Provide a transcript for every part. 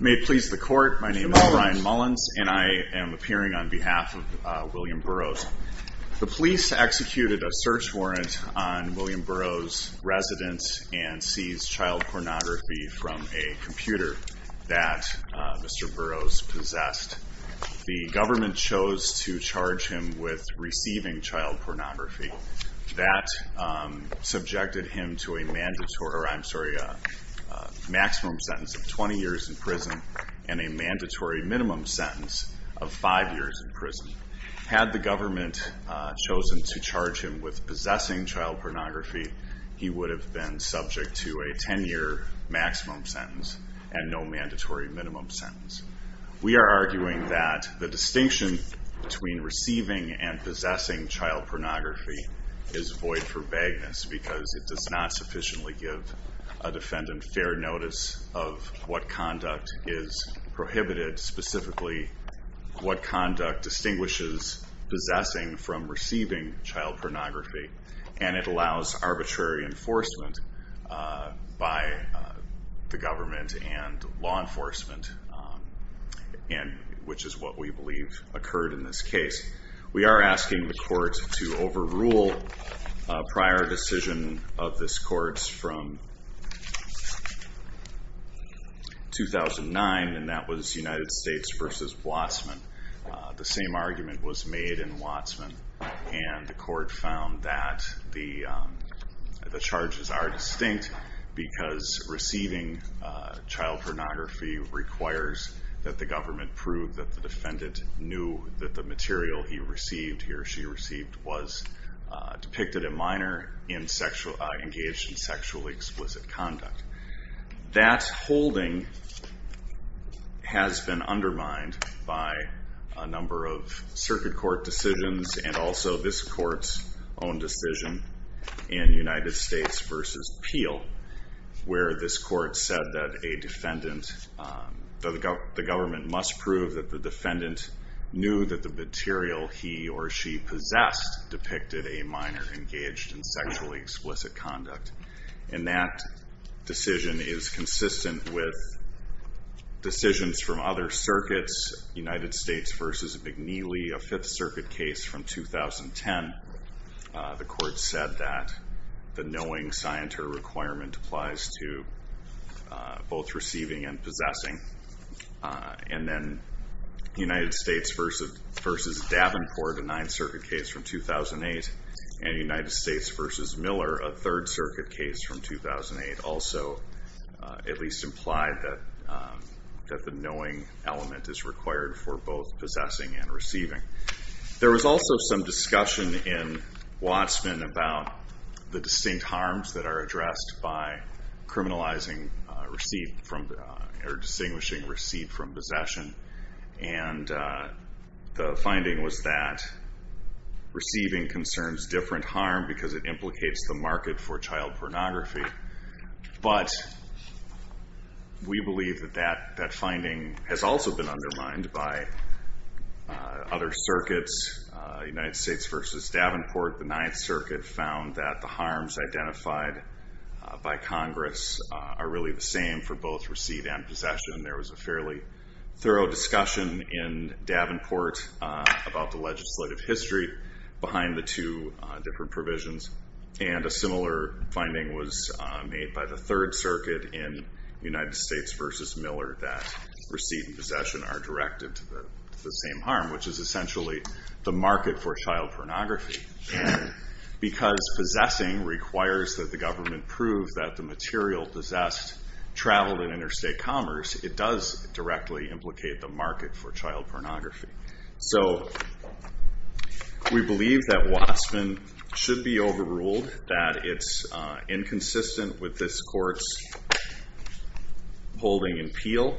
May it please the Court, my name is Ryan Mullins and I am appearing on behalf of William Burrows. The police executed a search warrant on William Burrows' residence and seized child pornography from a computer that Mr. Burrows possessed. The government chose to charge him with receiving child pornography. That subjected him to a maximum sentence of 20 years in prison and a mandatory minimum sentence of five years in prison. Had the government chosen to charge him with possessing child pornography, he would have been subject to a 10 year maximum sentence and no mandatory minimum sentence. We are arguing that the distinction between receiving and possessing child pornography is void for vagueness, because it does not sufficiently give a defendant fair notice of what conduct is prohibited. Specifically, what conduct distinguishes possessing from receiving child pornography. And it allows arbitrary enforcement by the government and law enforcement, which is what we believe occurred in this case. We are asking the court to overrule a prior decision of this court from 2009. And that was United States versus Watsman. The same argument was made in Watsman. And the court found that the charges are distinct, because receiving child pornography requires that the government prove that the defendant knew that the material he received, he or she received, was depicted a minor engaged in sexually explicit conduct. That holding has been undermined by a number of circuit court decisions and also this court's own decision in United States versus Peel. Where this court said that a defendant, the government must prove that the defendant knew that the material he or she possessed, depicted a minor engaged in sexually explicit conduct. And that decision is consistent with decisions from other circuits. United States versus McNeely, a 5th Circuit case from 2010. The court said that the knowing scienter requirement applies to both receiving and possessing, and then United States versus Davenport, a 9th Circuit case from 2008. And United States versus Miller, a 3rd Circuit case from 2008 also at least implied that the knowing element is required for both possessing and receiving. There was also some discussion in Watsman about the distinct harms that are addressed by criminalizing, or distinguishing receipt from possession. And the finding was that receiving concerns different harm because it implicates the market for child pornography. But we believe that that finding has also been undermined by other circuits. United States versus Davenport, the 9th Circuit found that the harms identified by Congress are really the same for both receipt and possession. There was a fairly thorough discussion in Davenport about the legislative history behind the two different provisions. And a similar finding was made by the 3rd Circuit in United States versus Miller that receipt and possession are directed to the same harm, which is essentially the market for child pornography. While possessed, traveled in interstate commerce, it does directly implicate the market for child pornography. So we believe that Watsman should be overruled, that it's inconsistent with this court's holding appeal,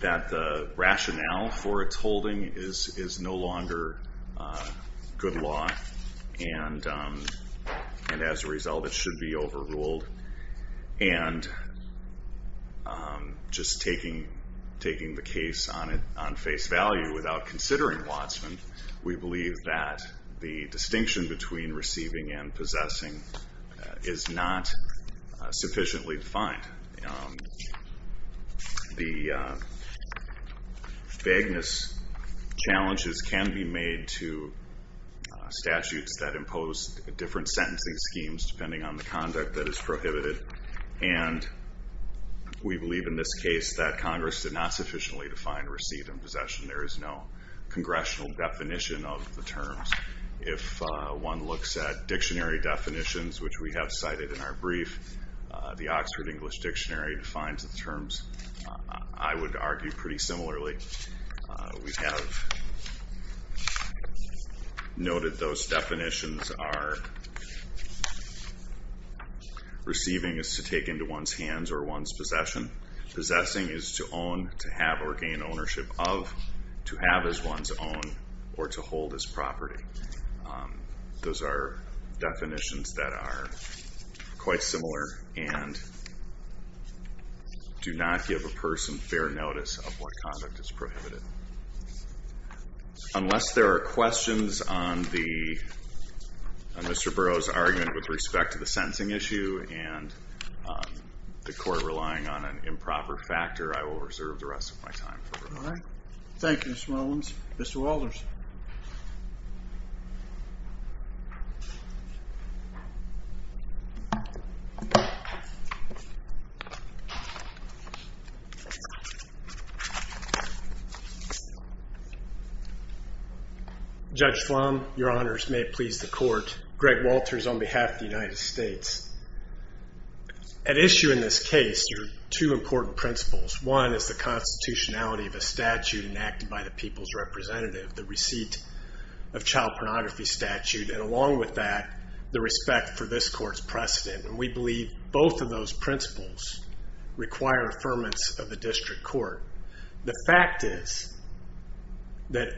that the rationale for its holding is no longer good law. And as a result, it should be overruled. And just taking the case on face value without considering Watsman, we believe that the distinction between receiving and possessing is not sufficiently defined. The vagueness challenges can be made to statutes that impose different sentencing schemes depending on the conduct that is prohibited. And we believe in this case that Congress did not sufficiently define receipt and possession. There is no congressional definition of the terms. If one looks at dictionary definitions, which we have cited in our brief, the Oxford English Dictionary defines the terms, I would argue, pretty similarly. We have noted those definitions are receiving is to take into one's hands or one's possession. Possessing is to own, to have, or gain ownership of, to have as one's own, or to hold as property. Those are definitions that are quite similar and do not give a person fair notice of what conduct is prohibited. Unless there are questions on Mr. Burroughs' argument with respect to the sentencing issue and the court relying on an improper factor, I will reserve the rest of my time for rebuttal. Thank you, Mr. Rollins. Mr. Walters. Judge Flom, your honors may it please the court. Greg Walters on behalf of the United States. At issue in this case are two important principles. One is the constitutionality of a statute enacted by the people's representative, the receipt of child pornography statute. And along with that, the respect for this court's precedent. And we believe both of those principles require affirmance of the district court. The fact is that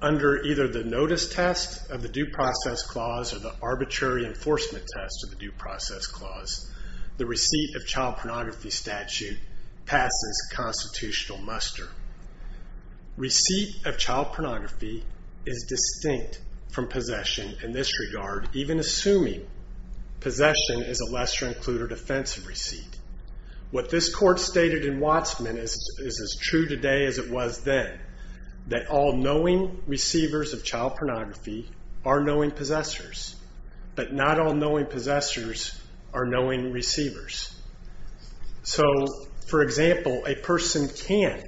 under either the notice test of the due process clause or the arbitrary enforcement test of the due process clause, the receipt of child pornography statute passes constitutional muster. Receipt of child pornography is distinct from possession in this regard, even assuming possession is a lesser included offensive receipt. What this court stated in Wattsman is as true today as it was then, that all knowing receivers of child pornography are knowing possessors. But not all knowing possessors are knowing receivers. So, for example, a person can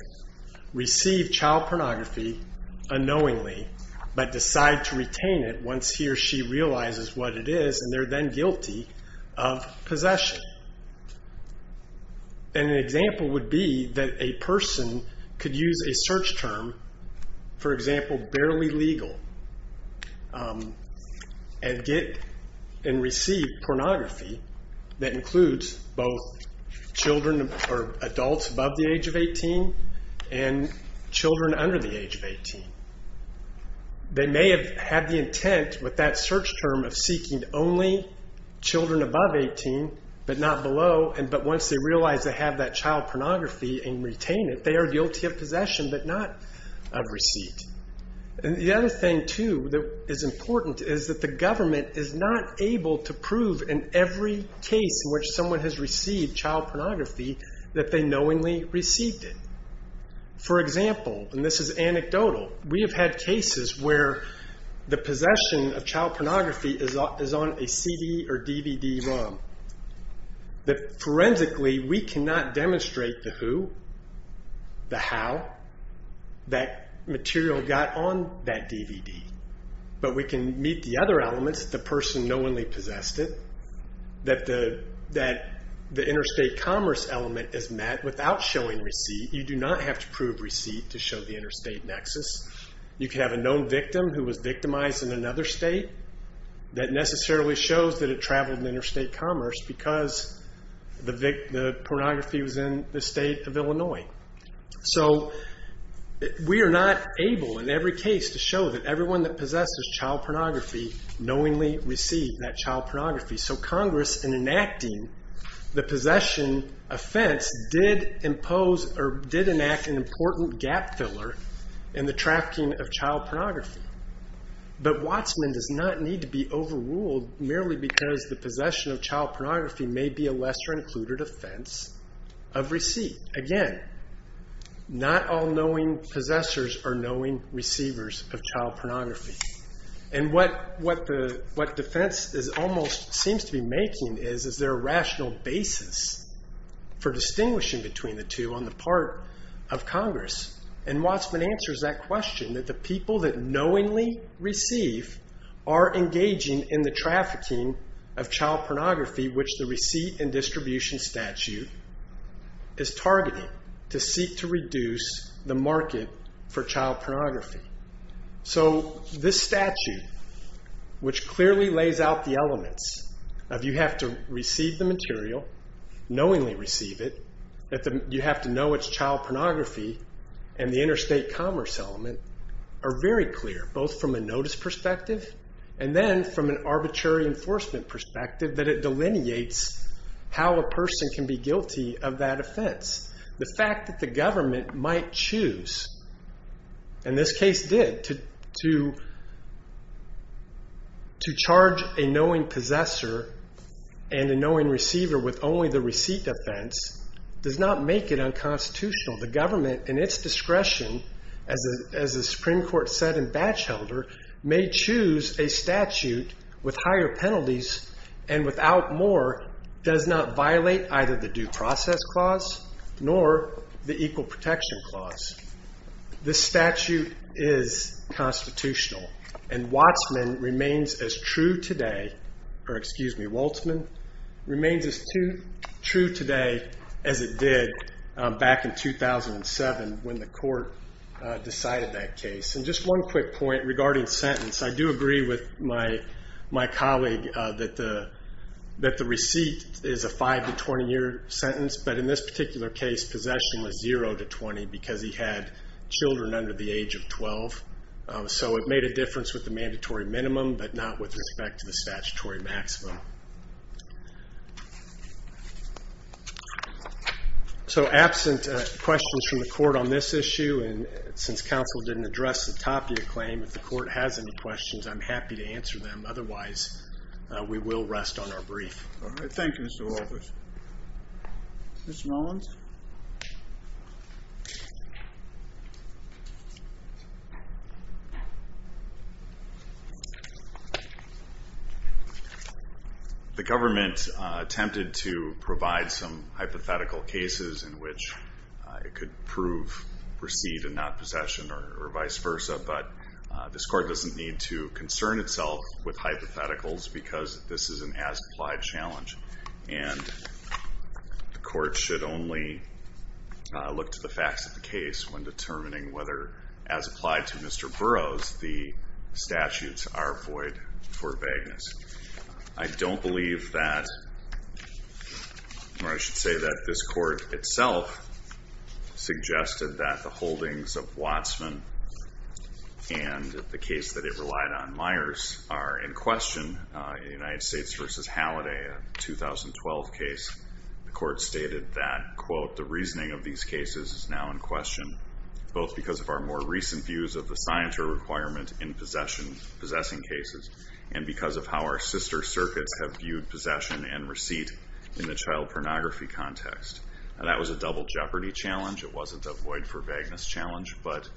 receive child pornography unknowingly, but decide to retain it once he or she realizes what it is, and they're then guilty of possession. And an example would be that a person could use a search term, for example, barely legal, and get and receive pornography that includes both children or adults above the age of 18 and children under the age of 18. They may have had the intent with that search term of seeking only children above 18, but not below. And but once they realize they have that child pornography and retain it, they are guilty of possession, but not of receipt. And the other thing, too, that is important is that the government is not able to prove in every case in which someone has received child pornography that they knowingly received it. For example, and this is anecdotal, we have had cases where the possession of child pornography is on a CD or DVD ROM. That forensically, we cannot demonstrate the who, the how, that material got on that DVD, but we can meet the other elements, the person knowingly possessed it, that the interstate commerce element is met without showing receipt. You do not have to prove receipt to show the interstate nexus. You can have a known victim who was victimized in another state that necessarily shows that it traveled interstate commerce because the pornography was in the state of Illinois. So we are not able in every case to show that everyone that possesses child pornography knowingly received that child pornography. So Congress, in enacting the possession offense, did impose or did enact an important gap filler in the trafficking of child pornography. But Watsman does not need to be overruled merely because the possession of child pornography may be a lesser included offense of receipt. Again, not all knowing possessors are knowing receivers of child pornography. And what defense almost seems to be making is, is there a rational basis for distinguishing between the two on the part of Congress? And Watsman answers that question, that the people that knowingly receive are engaging in the trafficking of child pornography, which the receipt and distribution statute is targeting to seek to reduce the market for child pornography. So this statute, which clearly lays out the elements of you have to receive the material, knowingly receive it, that you have to know it's child pornography, and the interstate commerce element, are very clear, both from a notice perspective and then from an arbitrary enforcement perspective that it delineates how a person can be guilty of that offense. The fact that the government might choose, and this case did, to charge a knowing possessor and a knowing receiver with only the receipt offense does not make it unconstitutional. The government, in its discretion, as the Supreme Court said in Batchelder, may choose a statute with higher penalties and without more does not violate either the due process clause nor the equal protection clause. This statute is constitutional, and Watsman remains as true today, or excuse me, Woltzman, remains as true today as it did back in 2007 when the court decided that case. And just one quick point regarding sentence. I do agree with my colleague that the receipt is a 5 to 20 year sentence, but in this particular case, possession was 0 to 20 because he had children under the age of 12. So it made a difference with the mandatory minimum, but not with respect to the statutory maximum. So absent questions from the court on this issue, and since counsel didn't address the Tapia claim, if the court has any questions, I'm happy to answer them. Otherwise, we will rest on our brief. All right, thank you, Mr. Walters. Mr. Mullins? The government attempted to provide some hypothetical cases in which it could prove receipt and not possession, or vice versa. But this court doesn't need to concern itself with hypotheticals, because this is an as-applied challenge. And the court should only look to the facts of the case when determining whether, as applied to Mr. Burroughs, the statutes are void for vagueness. I don't believe that, or I should say that this court itself suggested that the holdings of Wattsman and the case that it relied on, Myers, are in question in United States v. Halliday, a 2012 case. The court stated that, quote, the reasoning of these cases is now in question, both because of our more recent views of the signatory requirement in possessing cases, and because of how our sister circuits have viewed possession and that was a double jeopardy challenge. It wasn't a void for vagueness challenge, but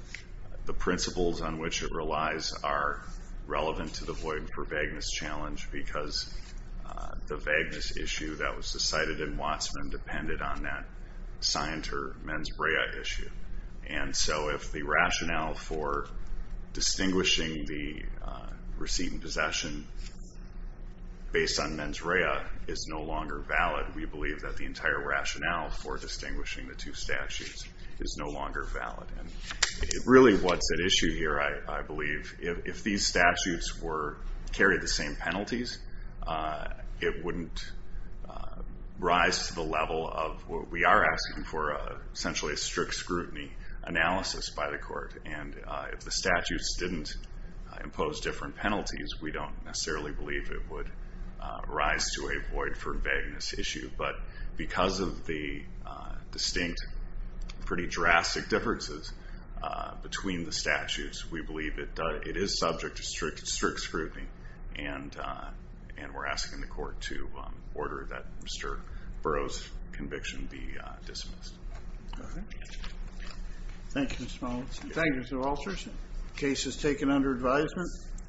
the principles on which it relies are relevant to the void for vagueness challenge, because the vagueness issue that was decided in Wattsman depended on that signatory mens rea issue. And so if the rationale for distinguishing the receipt and possession based on mens rea is no longer valid, we believe that the entire rationale for distinguishing the two statutes is no longer valid. And really what's at issue here, I believe, if these statutes carried the same penalties, it wouldn't rise to the level of what we are asking for, essentially a strict scrutiny analysis by the court. And if the statutes didn't impose different penalties, we don't necessarily believe it would rise to a void for vagueness issue. But because of the distinct, pretty drastic differences between the statutes, we believe that it is subject to strict scrutiny. And we're asking the court to order that Mr. Burrow's conviction be dismissed. Okay. Thank you, Mr. Mullins. Thank you, Mr. Walters. Case is taken under advisement.